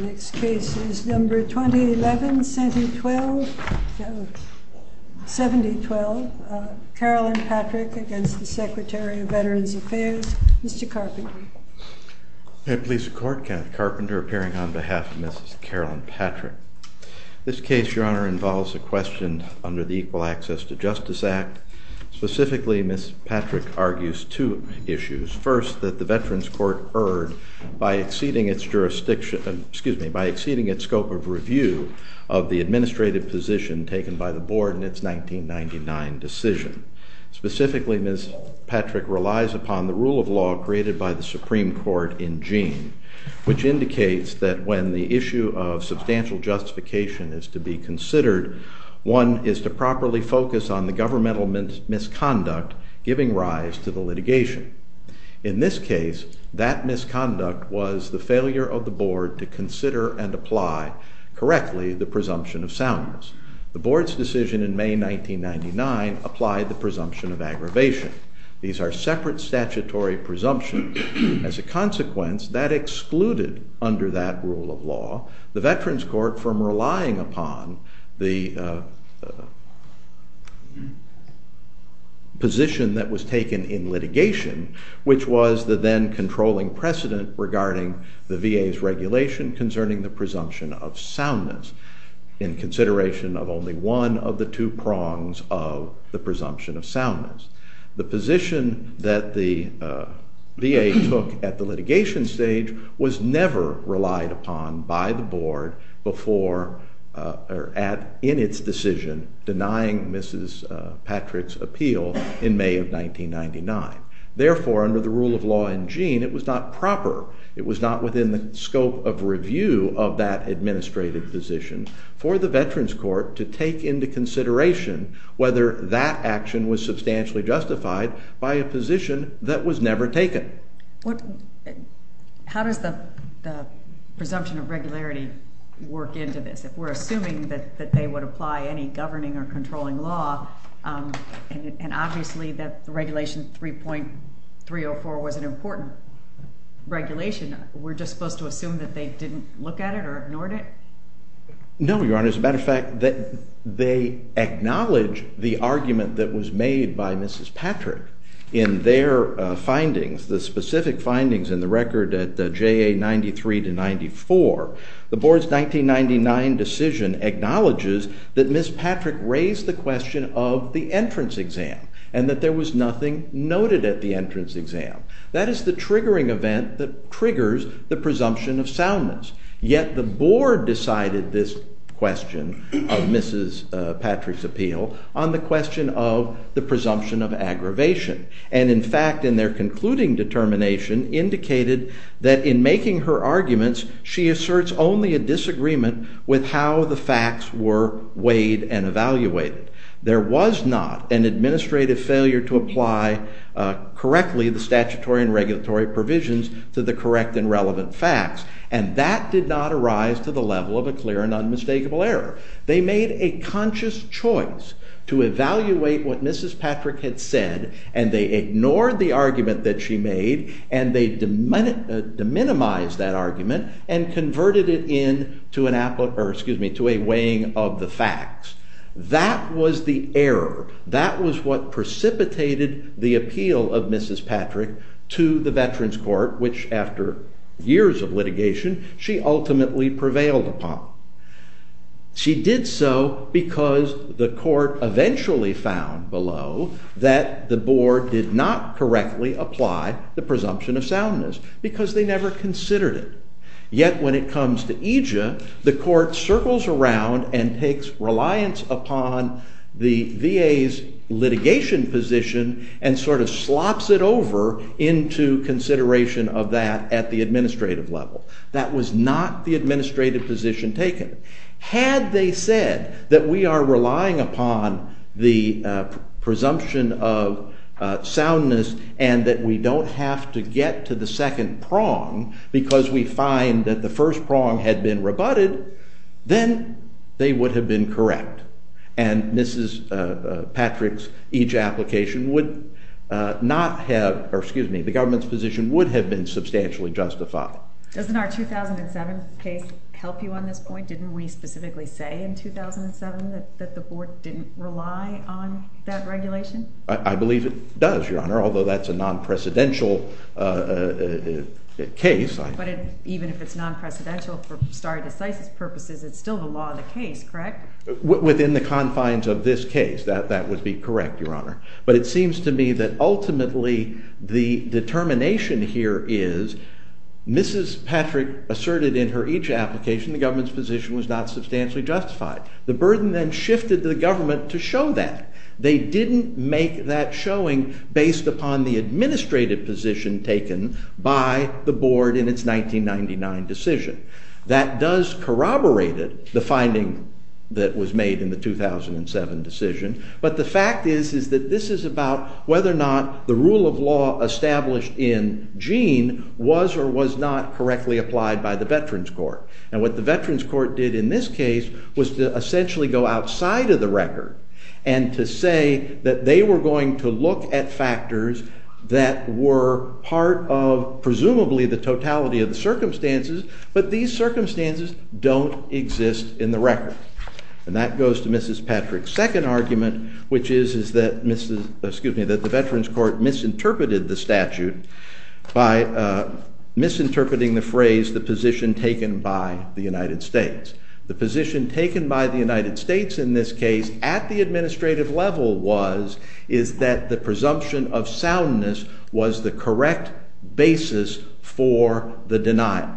The next case is number 2011, Senate 12, 7012. Carolyn Patrick against the Secretary of Veterans Affairs. Mr. Carpenter. May it please the Court, Kath Carpenter appearing on behalf of Mrs. Carolyn Patrick. This case, Your Honor, involves a question under the Equal Access to Justice Act. Specifically, Ms. Patrick argues two issues. First, that the Veterans Court erred by exceeding its jurisdiction, excuse me, by exceeding its scope of review of the administrative position taken by the board in its 1999 decision. Specifically, Ms. Patrick relies upon the rule of law created by the Supreme Court in Jean, which indicates that when the issue of substantial justification is to be considered, one is to properly focus on the governmental misconduct, giving rise to the litigation. In this case, that misconduct was the failure of the board to consider and apply correctly the presumption of soundness. The board's decision in May 1999 applied the presumption of aggravation. These are separate statutory presumptions. As a consequence, that excluded under that rule of law the Veterans Court from relying upon the position that was taken in litigation, which was the then controlling precedent regarding the VA's regulation concerning the presumption of soundness, in consideration of only one of the two prongs of the presumption of soundness. The position that the VA took at the litigation stage was never relied upon by the board in its decision, denying Mrs. Patrick's appeal in May of 1999. Therefore, under the rule of law in Jean, it was not proper. It was not within the scope of review of that administrative position for the Veterans Court to take into consideration whether that action was substantially justified by a position that was never taken. How does the presumption of regularity work into this? We're assuming that they would apply any governing or controlling law, and obviously that the regulation 3.304 was an important regulation. We're just supposed to assume that they didn't look at it or ignored it? No, Your Honor. As a matter of fact, they acknowledge the argument that was made by Mrs. Patrick in their findings, the specific findings in the record at JA 93 to 94. The board's 1999 decision acknowledges that Ms. Patrick raised the question of the entrance exam and that there was nothing noted at the entrance exam. That is the triggering event that triggers the presumption of soundness. Yet the board decided this question of Mrs. Patrick's appeal on the question of the presumption of aggravation. And in fact, in their concluding determination, indicated that in making her arguments, she asserts only a disagreement with how the facts were weighed and evaluated. There was not an administrative failure to apply correctly the statutory and regulatory provisions to the correct and relevant facts. And that did not arise to the level of a clear and unmistakable error. They made a conscious choice to evaluate what Mrs. Patrick had said, and they ignored the argument that she made, and they deminimized that argument and converted it in to a weighing of the facts. That was the error. That was what precipitated the appeal of Mrs. Patrick to the Veterans Court, which after years of litigation, she ultimately prevailed upon. She did so because the court eventually found below that the board did not correctly apply the presumption of soundness, because they never considered it. Yet when it comes to EJIA, the court circles around and takes reliance upon the VA's litigation position and sort of slops it over into consideration of that at the administrative level. That was not the administrative position taken. Had they said that we are relying upon the presumption of soundness and that we don't have to get to the second prong because we find that the first prong had been rebutted, then they would have been correct. And Mrs. Patrick's EJIA application would not have, or excuse me, the government's position would have been substantially justified. Doesn't our 2007 case help you on this point? Didn't we specifically say in 2007 that the board didn't rely on that regulation? I believe it does, Your Honor, although that's a non-precedential case. But even if it's non-precedential for stare decisis purposes, it's still the law of the case, correct? Within the confines of this case, that would be correct, Your Honor. But it seems to me that ultimately the determination here is Mrs. Patrick asserted in her EJIA application the government's position was not substantially justified. The burden then shifted to the government to show that. They didn't make that showing based upon the administrative position taken by the board in its 1999 decision. That does corroborate it, the finding that was made in the 2007 decision. But the fact is that this is about whether or not the rule of law established in Jean was or was not correctly applied by the Veterans Court. And what the Veterans Court did in this case was to essentially go outside of the record and to say that they were going to look at factors that were part of, presumably, the totality of the circumstances. But these circumstances don't exist in the record. And that goes to Mrs. Patrick's second argument, which is that the Veterans Court misinterpreted the statute by misinterpreting the phrase, the position taken by the United States. The position taken by the United States in this case at the administrative level was that the presumption of soundness was the correct basis for the denial.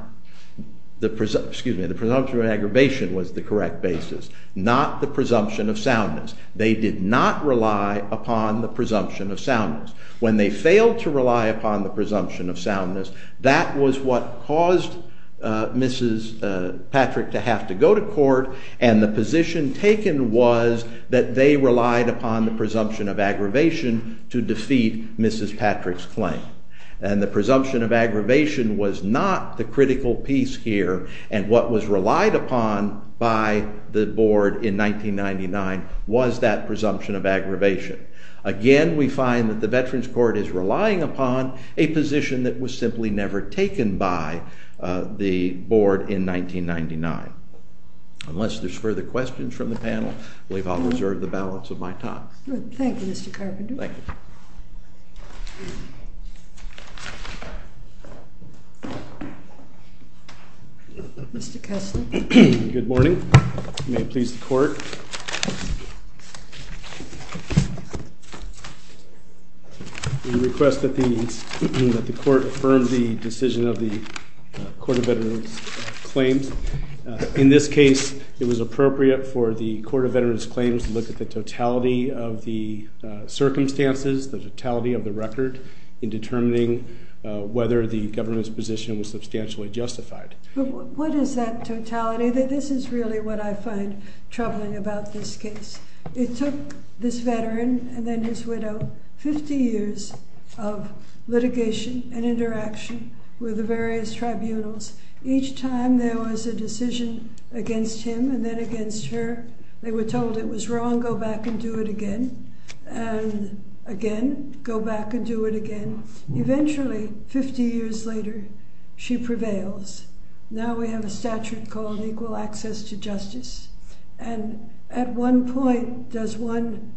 Excuse me, the presumption of aggravation was the correct basis, not the presumption of soundness. They did not rely upon the presumption of soundness. When they failed to rely upon the presumption of soundness, that was what caused Mrs. Patrick to have to go to court. And the position taken was that they relied upon the presumption of aggravation to defeat Mrs. Patrick's claim. And the presumption of aggravation was not the critical piece here. And what was relied upon by the board in 1999 was that presumption of aggravation. Again, we find that the Veterans Court is relying upon a position that was simply never taken by the board in 1999. Unless there's further questions from the panel, I believe I'll reserve the balance of my time. Thank you, Mr. Carpenter. Thank you. Mr. Kessler. Good morning. May it please the court. Thank you. We request that the court affirm the decision of the Court of Veterans Claims. In this case, it was appropriate for the Court of Veterans Claims to look at the totality of the circumstances, the totality of the record, in determining whether the government's position was substantially justified. What is that totality? This is really what I find troubling about this case. It took this veteran, and then his widow, 50 years of litigation and interaction with the various tribunals. Each time there was a decision against him and then against her, they were told it was wrong, go back and do it again, and again, go back and do it again. Eventually, 50 years later, she prevails. Now we have a statute called equal access to justice. And at one point, does one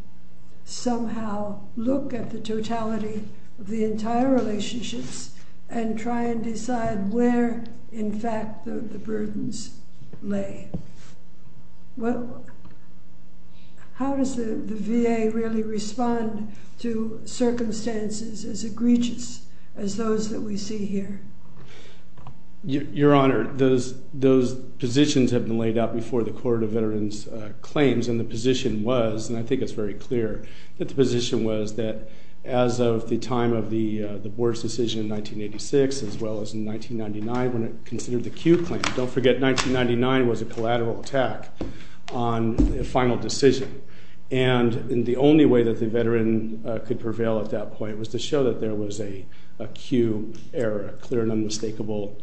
somehow look at the totality of the entire relationships and try and decide where, in fact, the burdens lay? Well, how does the VA really respond to circumstances as egregious as those that we see here? Your Honor, those positions have been laid out before the Court of Veterans Claims. And the position was, and I think it's very clear that the position was, that as of the time of the Board's decision in 1986, as well as in 1999, when it considered the Q claim. Don't forget, 1999 was a collateral attack on a final decision. And the only way that the veteran could prevail at that point was to show that there was a Q error, a clear and unmistakable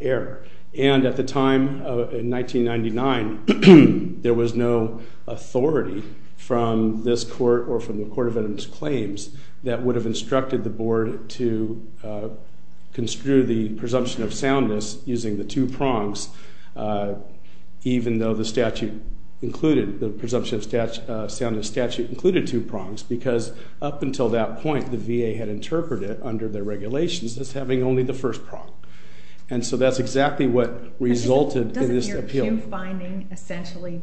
error. And at the time, in 1999, there was no authority from this court or from the Court of Veterans Claims that would have instructed the Board to construe the presumption of soundness using the two prongs, even though the presumption of soundness statute included two prongs. Because up until that point, the VA had interpreted under the regulations as having only the first prong. And so that's exactly what resulted in this appeal. Doesn't your Q finding essentially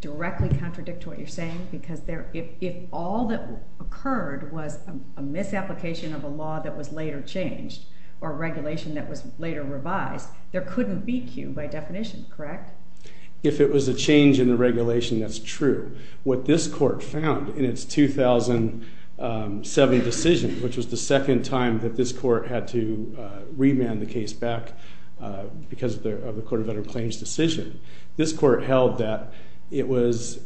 directly contradict what you're saying? Because if all that occurred was a misapplication of a law that was later changed or a regulation that was later revised, there couldn't be Q by definition, correct? If it was a change in the regulation, that's true. What this court found in its 2007 decision, which was the second time that this court had to remand the case back because of the Court of Veterans Claims decision, this court held that it was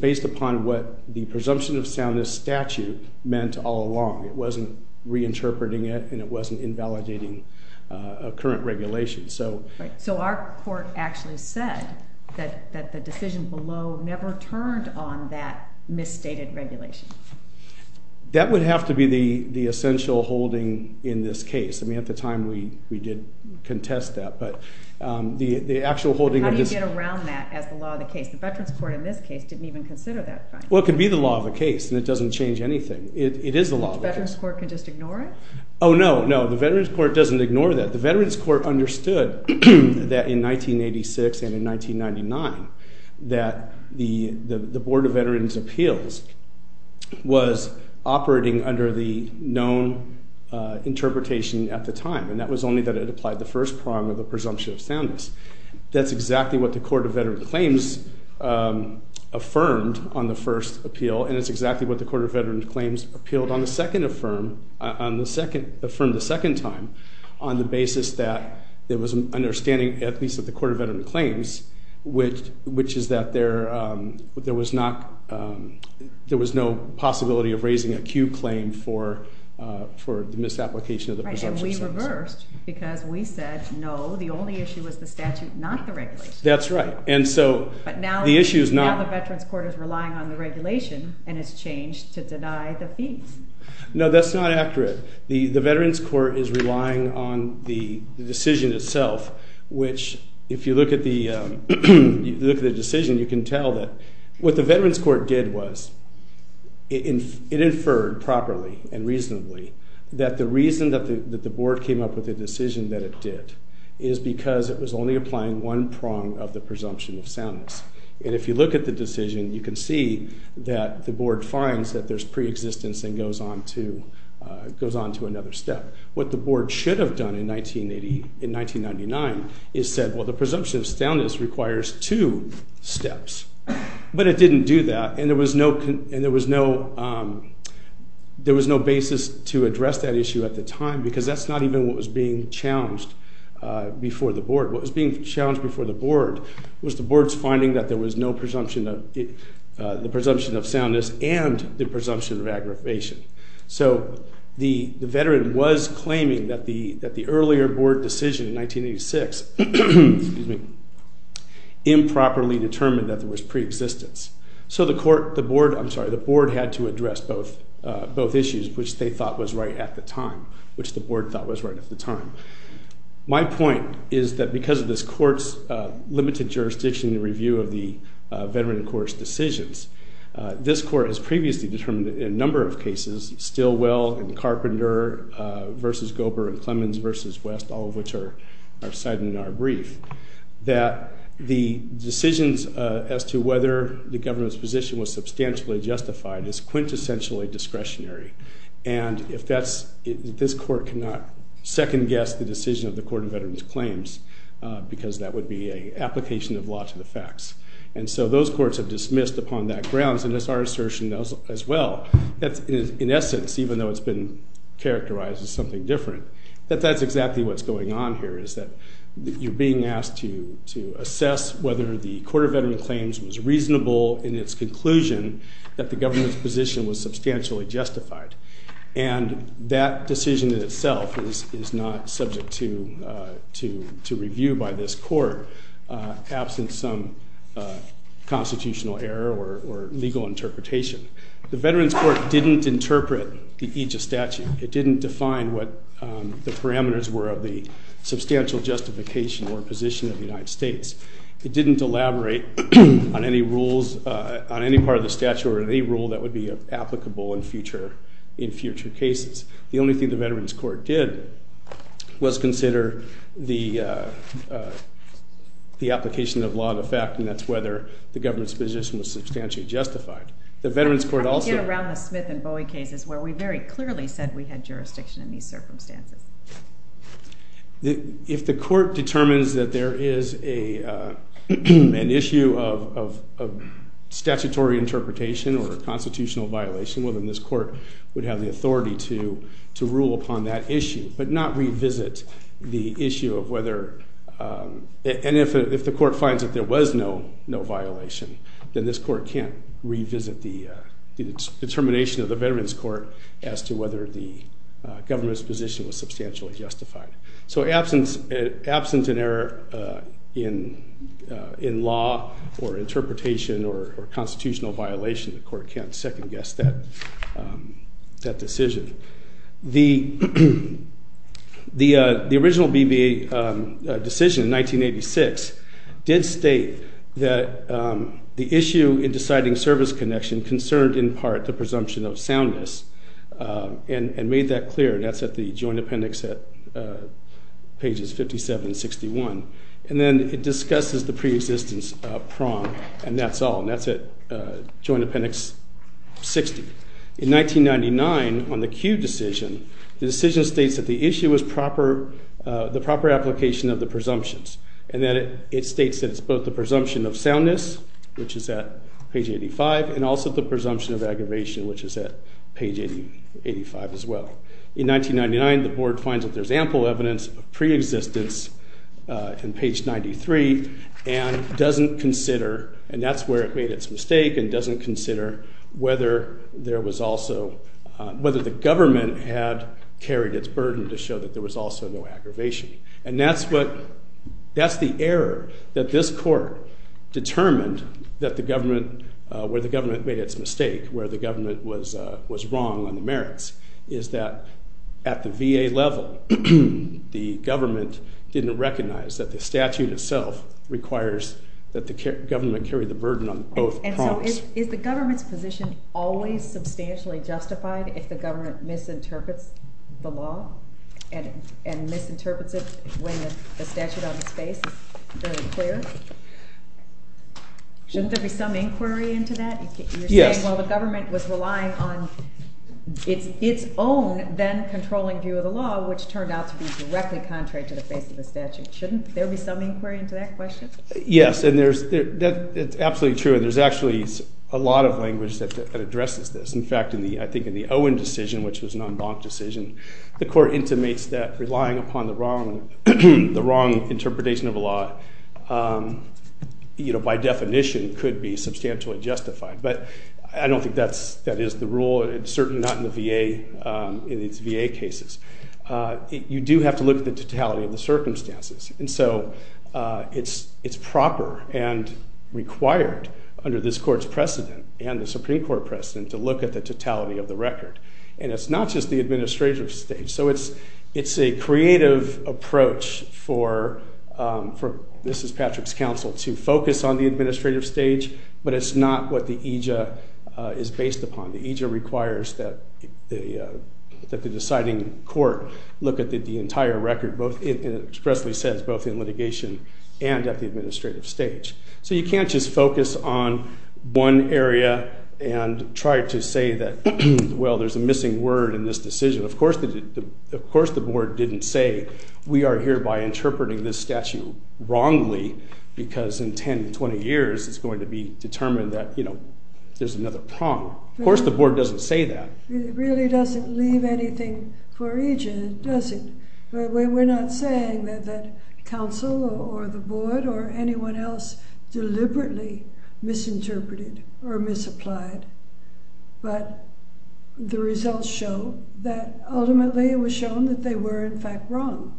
based upon what the presumption of soundness statute meant all along. It wasn't reinterpreting it. And it wasn't invalidating a current regulation. So our court actually said that the decision below never turned on that misstated regulation. That would have to be the essential holding in this case. I mean, at the time, we did contest that. But the actual holding of this. How do you get around that as the law of the case? The Veterans Court in this case didn't even consider that finding. Well, it could be the law of the case. And it doesn't change anything. It is the law of the case. The Veterans Court can just ignore it? Oh, no. No, the Veterans Court doesn't ignore that. The Veterans Court understood that in 1986 and in 1999 that the Board of Veterans Appeals was operating under the known interpretation at the time. And that was only that it applied the first prong of the presumption of soundness. That's exactly what the Court of Veterans Claims affirmed on the first appeal. And it's exactly what the Court of Veterans Claims appealed on the second affirm the second time on the basis that there was an understanding, at least at the Court of Veterans Claims, which is that there was no possibility of raising a Q claim for the misapplication of the presumption of soundness. Right, and we reversed. Because we said, no, the only issue was the statute, not the regulation. That's right. And so the issue is not. But now the Veterans Court is relying on the regulation and has changed to deny the fees. No, that's not accurate. The Veterans Court is relying on the decision itself, which, if you look at the decision, you can tell that what the Veterans Court did was it inferred properly and reasonably that the reason that the board came up with a decision that it did is because it was only applying one prong of the presumption of soundness. And if you look at the decision, you can see that the board finds that there's preexistence and goes on to another step. What the board should have done in 1999 is said, well, the presumption of soundness requires two steps. But it didn't do that. And there was no basis to address that issue at the time. Because that's not even what was being challenged before the board. What was being challenged before the board was the board's finding that there was no presumption of soundness and the presumption of aggravation. So the veteran was claiming that the earlier board decision in 1986 improperly determined that there was preexistence. So the board had to address both issues, which they thought was right at the time, which the board thought was right at the time. My point is that, because of this court's limited jurisdiction in the review of the Veterans Court's decisions, this court has previously determined in a number of cases, Stilwell and Carpenter versus Gober and Clemens versus West, all of which are cited in our brief, that the decisions as to whether the government's position was substantially justified is quintessentially discretionary. And this court cannot second guess the decision of the Court of Veterans Claims, because that would be an application of law to the facts. And so those courts have dismissed upon that grounds. And it's our assertion, as well, that in essence, even though it's been characterized as something different, that that's exactly what's going on here, is that you're being asked to assess whether the Court of Veterans Claims was reasonable in its conclusion that the government's position was substantially justified. And that decision in itself is not subject to review by this court, absent some constitutional error or legal interpretation. The Veterans Court didn't interpret the aegis statute. It didn't define what the parameters were of the substantial justification or position of the United States. It didn't elaborate on any part of the statute or any rule that would be applicable in future cases. The only thing the Veterans Court did was consider the application of law to the fact, and that's whether the government's position was substantially justified. The Veterans Court also- How do we get around the Smith and Bowie cases, where we very clearly said we had jurisdiction in these circumstances? If the court determines that there is an issue of statutory interpretation or a constitutional violation, well, then this court would have the authority to rule upon that issue, but not revisit the issue of whether- no violation. Then this court can't revisit the determination of the Veterans Court as to whether the government's position was substantially justified. So absent an error in law or interpretation or constitutional violation, the court can't second-guess that decision. The original BVA decision in 1986 did state that the issue in deciding service connection concerned, in part, the presumption of soundness and made that clear. And that's at the Joint Appendix at pages 57 and 61. And then it discusses the pre-existence prong, and that's all. And that's at Joint Appendix 60. In 1999, on the Kew decision, the decision states that the issue was the proper application of the presumptions. And then it states that it's both the presumption of soundness, which is at page 85, and also the presumption of aggravation, which is at page 85 as well. In 1999, the board finds that there's ample evidence of pre-existence in page 93 and doesn't consider, and that's where it made its mistake, and doesn't consider whether the government had carried its burden to show that there was also no aggravation. And that's the error that this court determined that the government, where the government made its mistake, where the government was wrong on the merits, is that at the VA level, the government didn't recognize that the statute itself requires that the government carry the burden on both prongs. And so is the government's position always substantially justified if the government misinterprets the law and misinterprets it when the statute on its face is very clear? Shouldn't there be some inquiry into that? You're saying, well, the government was relying on its own then controlling view of the law, which turned out to be directly contrary to the face of the statute. Shouldn't there be some inquiry into that question? Yes. It's absolutely true. And there's actually a lot of language that addresses this. In fact, I think in the Owen decision, which was an en banc decision, the court intimates that relying upon the wrong interpretation of a law, by definition, could be substantially justified. But I don't think that is the rule. It's certainly not in the VA, in its VA cases. You do have to look at the totality of the circumstances. And so it's proper and required under this court's precedent and the Supreme Court precedent to look at the totality of the record. And it's not just the administrative stage. So it's a creative approach for Mrs. Patrick's counsel to focus on the administrative stage, but it's not what the aegis is based upon. The aegis requires that the deciding court look at the entire record, and it expressly says both in litigation and at the administrative stage. So you can't just focus on one area and try to say that, well, there's a missing word in this decision. Of course the board didn't say, we are here by interpreting this statute wrongly, because in 10, 20 years, it's going to be determined that there's another prong. Of course the board doesn't say that. It really doesn't leave anything for each, does it? We're not saying that counsel or the board or anyone else deliberately misinterpreted or misapplied, but the results show that ultimately it was shown that they were, in fact, wrong.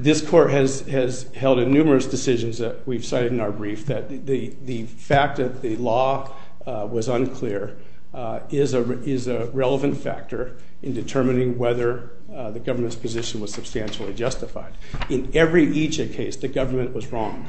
This court has held in numerous decisions that we've cited in our brief that the fact that the law was a relevant factor in determining whether the government's position was substantially justified. In every IJIA case, the government was wrong.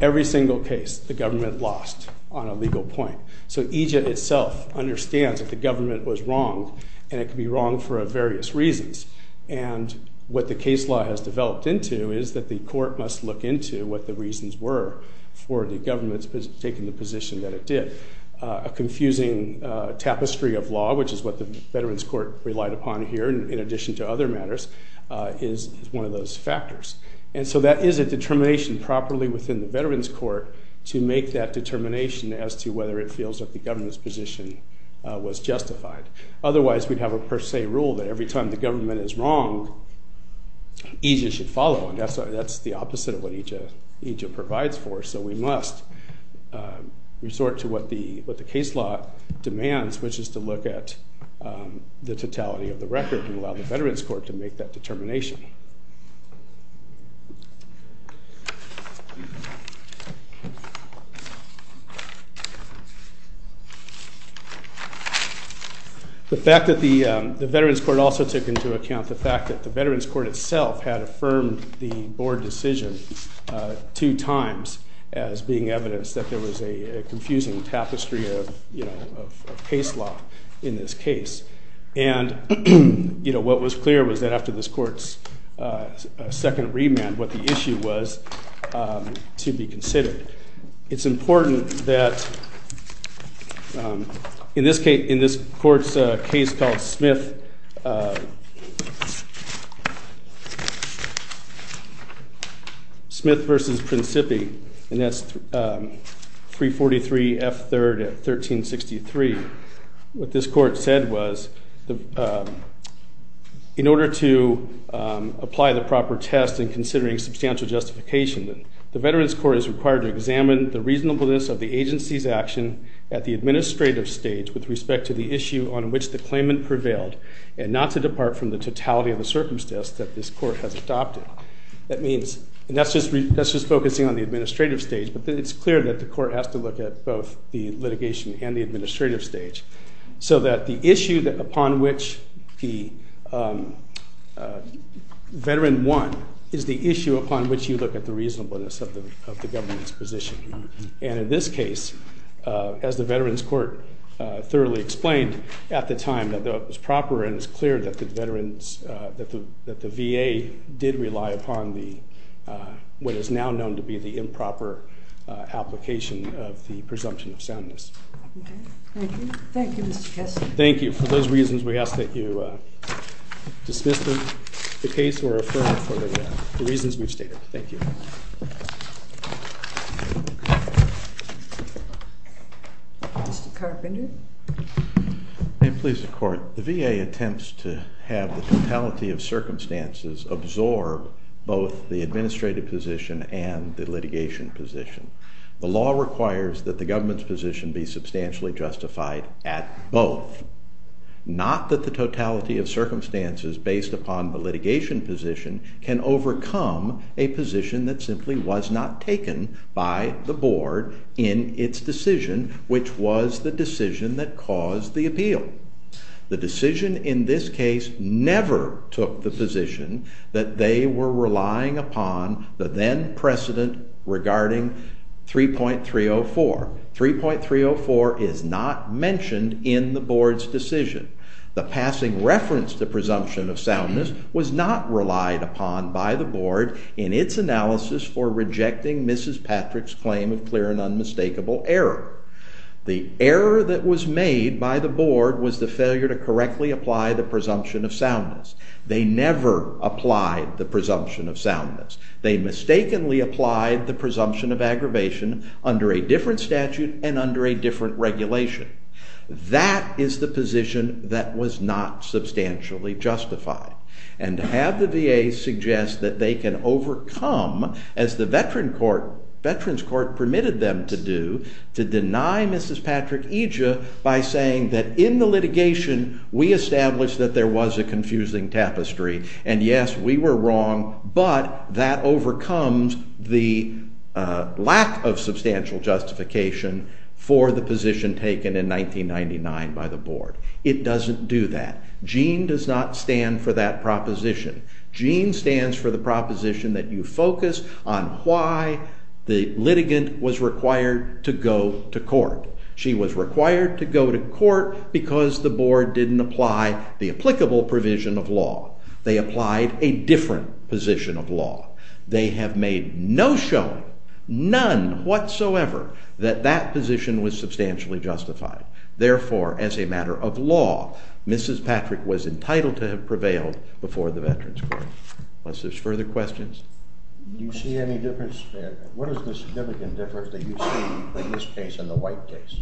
Every single case, the government lost on a legal point. So IJIA itself understands that the government was wrong, and it could be wrong for various reasons. And what the case law has developed into is that the court must look into what the reasons were for the government's taking the position that it did. A confusing tapestry of law, which is what the Veterans Court relied upon here, in addition to other matters, is one of those factors. And so that is a determination properly within the Veterans Court to make that determination as to whether it feels that the government's position was justified. Otherwise, we'd have a per se rule that every time the government is wrong, IJIA should follow. That's the opposite of what IJIA provides for. So we must resort to what the case law demands, which is to look at the totality of the record and allow the Veterans Court to make that determination. The fact that the Veterans Court also took into account the fact that the Veterans Court itself had affirmed the board decision two times as being evidence that there was a confusing tapestry of case law in this case. And what was clear was that after this court's second remand, what the issue was to be considered. It's important that in this court's case called Smith v. Principi, and that's 343 F. 3rd at 1363, what this court said was, in order to apply the proper test in considering substantial justification, the Veterans Court is required to examine the reasonableness of the agency's action at the administrative stage with respect to the issue on which the claimant prevailed and not to depart from the totality of the circumstance that this court has adopted. And that's just focusing on the administrative stage. But it's clear that the court has to look at both the litigation and the administrative stage. So that the issue upon which the veteran won is the issue upon which you look at the reasonableness of the government's position. And in this case, as the Veterans Court thoroughly explained at the time, that it was proper and it was clear that the VA did rely upon what is now known to be the improper application of the presumption of soundness. Thank you. Thank you, Mr. Kessler. Thank you. For those reasons, we ask that you dismiss the case or refer it for the reasons we've stated. Thank you. Mr. Carpenter. May it please the court, the VA attempts to have the totality of circumstances absorb both the administrative position and the litigation position. The law requires that the government's position be substantially justified at both. Not that the totality of circumstances based upon the litigation position can overcome a position that simply was not taken by the board in its decision, which was the decision that caused the appeal. The decision in this case never took the position that they were relying upon the then precedent regarding 3.304. 3.304 is not mentioned in the board's decision. The passing reference to presumption of soundness was not relied upon by the board in its analysis for rejecting Mrs. Patrick's claim of clear and unmistakable error. The error that was made by the board was the failure to correctly apply the presumption of soundness. They never applied the presumption of soundness. They mistakenly applied the presumption of aggravation under a different statute and under a different regulation. That is the position that was not substantially justified. And to have the VA suggest that they can overcome, as the Veterans Court permitted them to do, to deny Mrs. Patrick Eja by saying that in the litigation we established that there was a confusing tapestry, and yes, we were wrong, but that overcomes the lack of substantial justification for the position taken in 1999 by the board. It doesn't do that. JEAN does not stand for that proposition. JEAN stands for the proposition that you focus on why the litigant was required to go to court. She was required to go to court because the board didn't apply the applicable provision of law. They applied a different position of law. They have made no showing, none whatsoever, that that position was substantially justified. Therefore, as a matter of law, Mrs. Patrick was entitled to have prevailed before the Veterans Court. Unless there's further questions. Do you see any difference? What is the significant difference that you see in this case and the White case?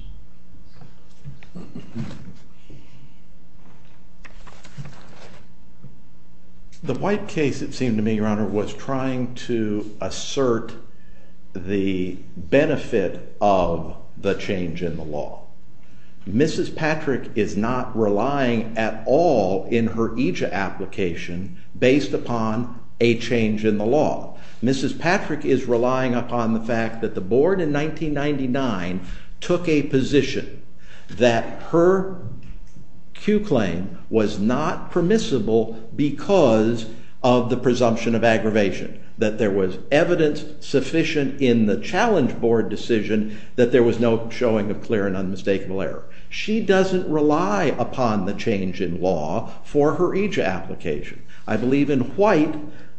The White case, it seemed to me, Your Honor, was trying to assert the benefit of the change in the law. Mrs. Patrick is not relying at all in her EJA application based upon a change in the law. Mrs. Patrick is relying upon the fact that the board in 1999 took a position that her Q claim was not permissible because of the presumption of aggravation. That there was evidence sufficient in the challenge board decision that there was no showing of clear and unmistakable error. She doesn't rely upon the change in law for her EJA application. I believe in White,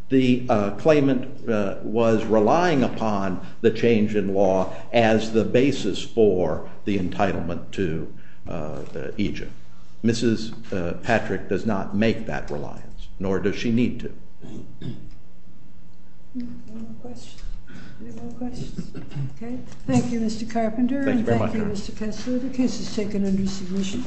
the claimant was relying upon the change in law as the basis for the entitlement to EJA. Mrs. Patrick does not make that reliance, nor does she need to. Thank you, Mr. Carpenter. Thank you very much. Thank you, Mr. Kessler. The case is taken under submission.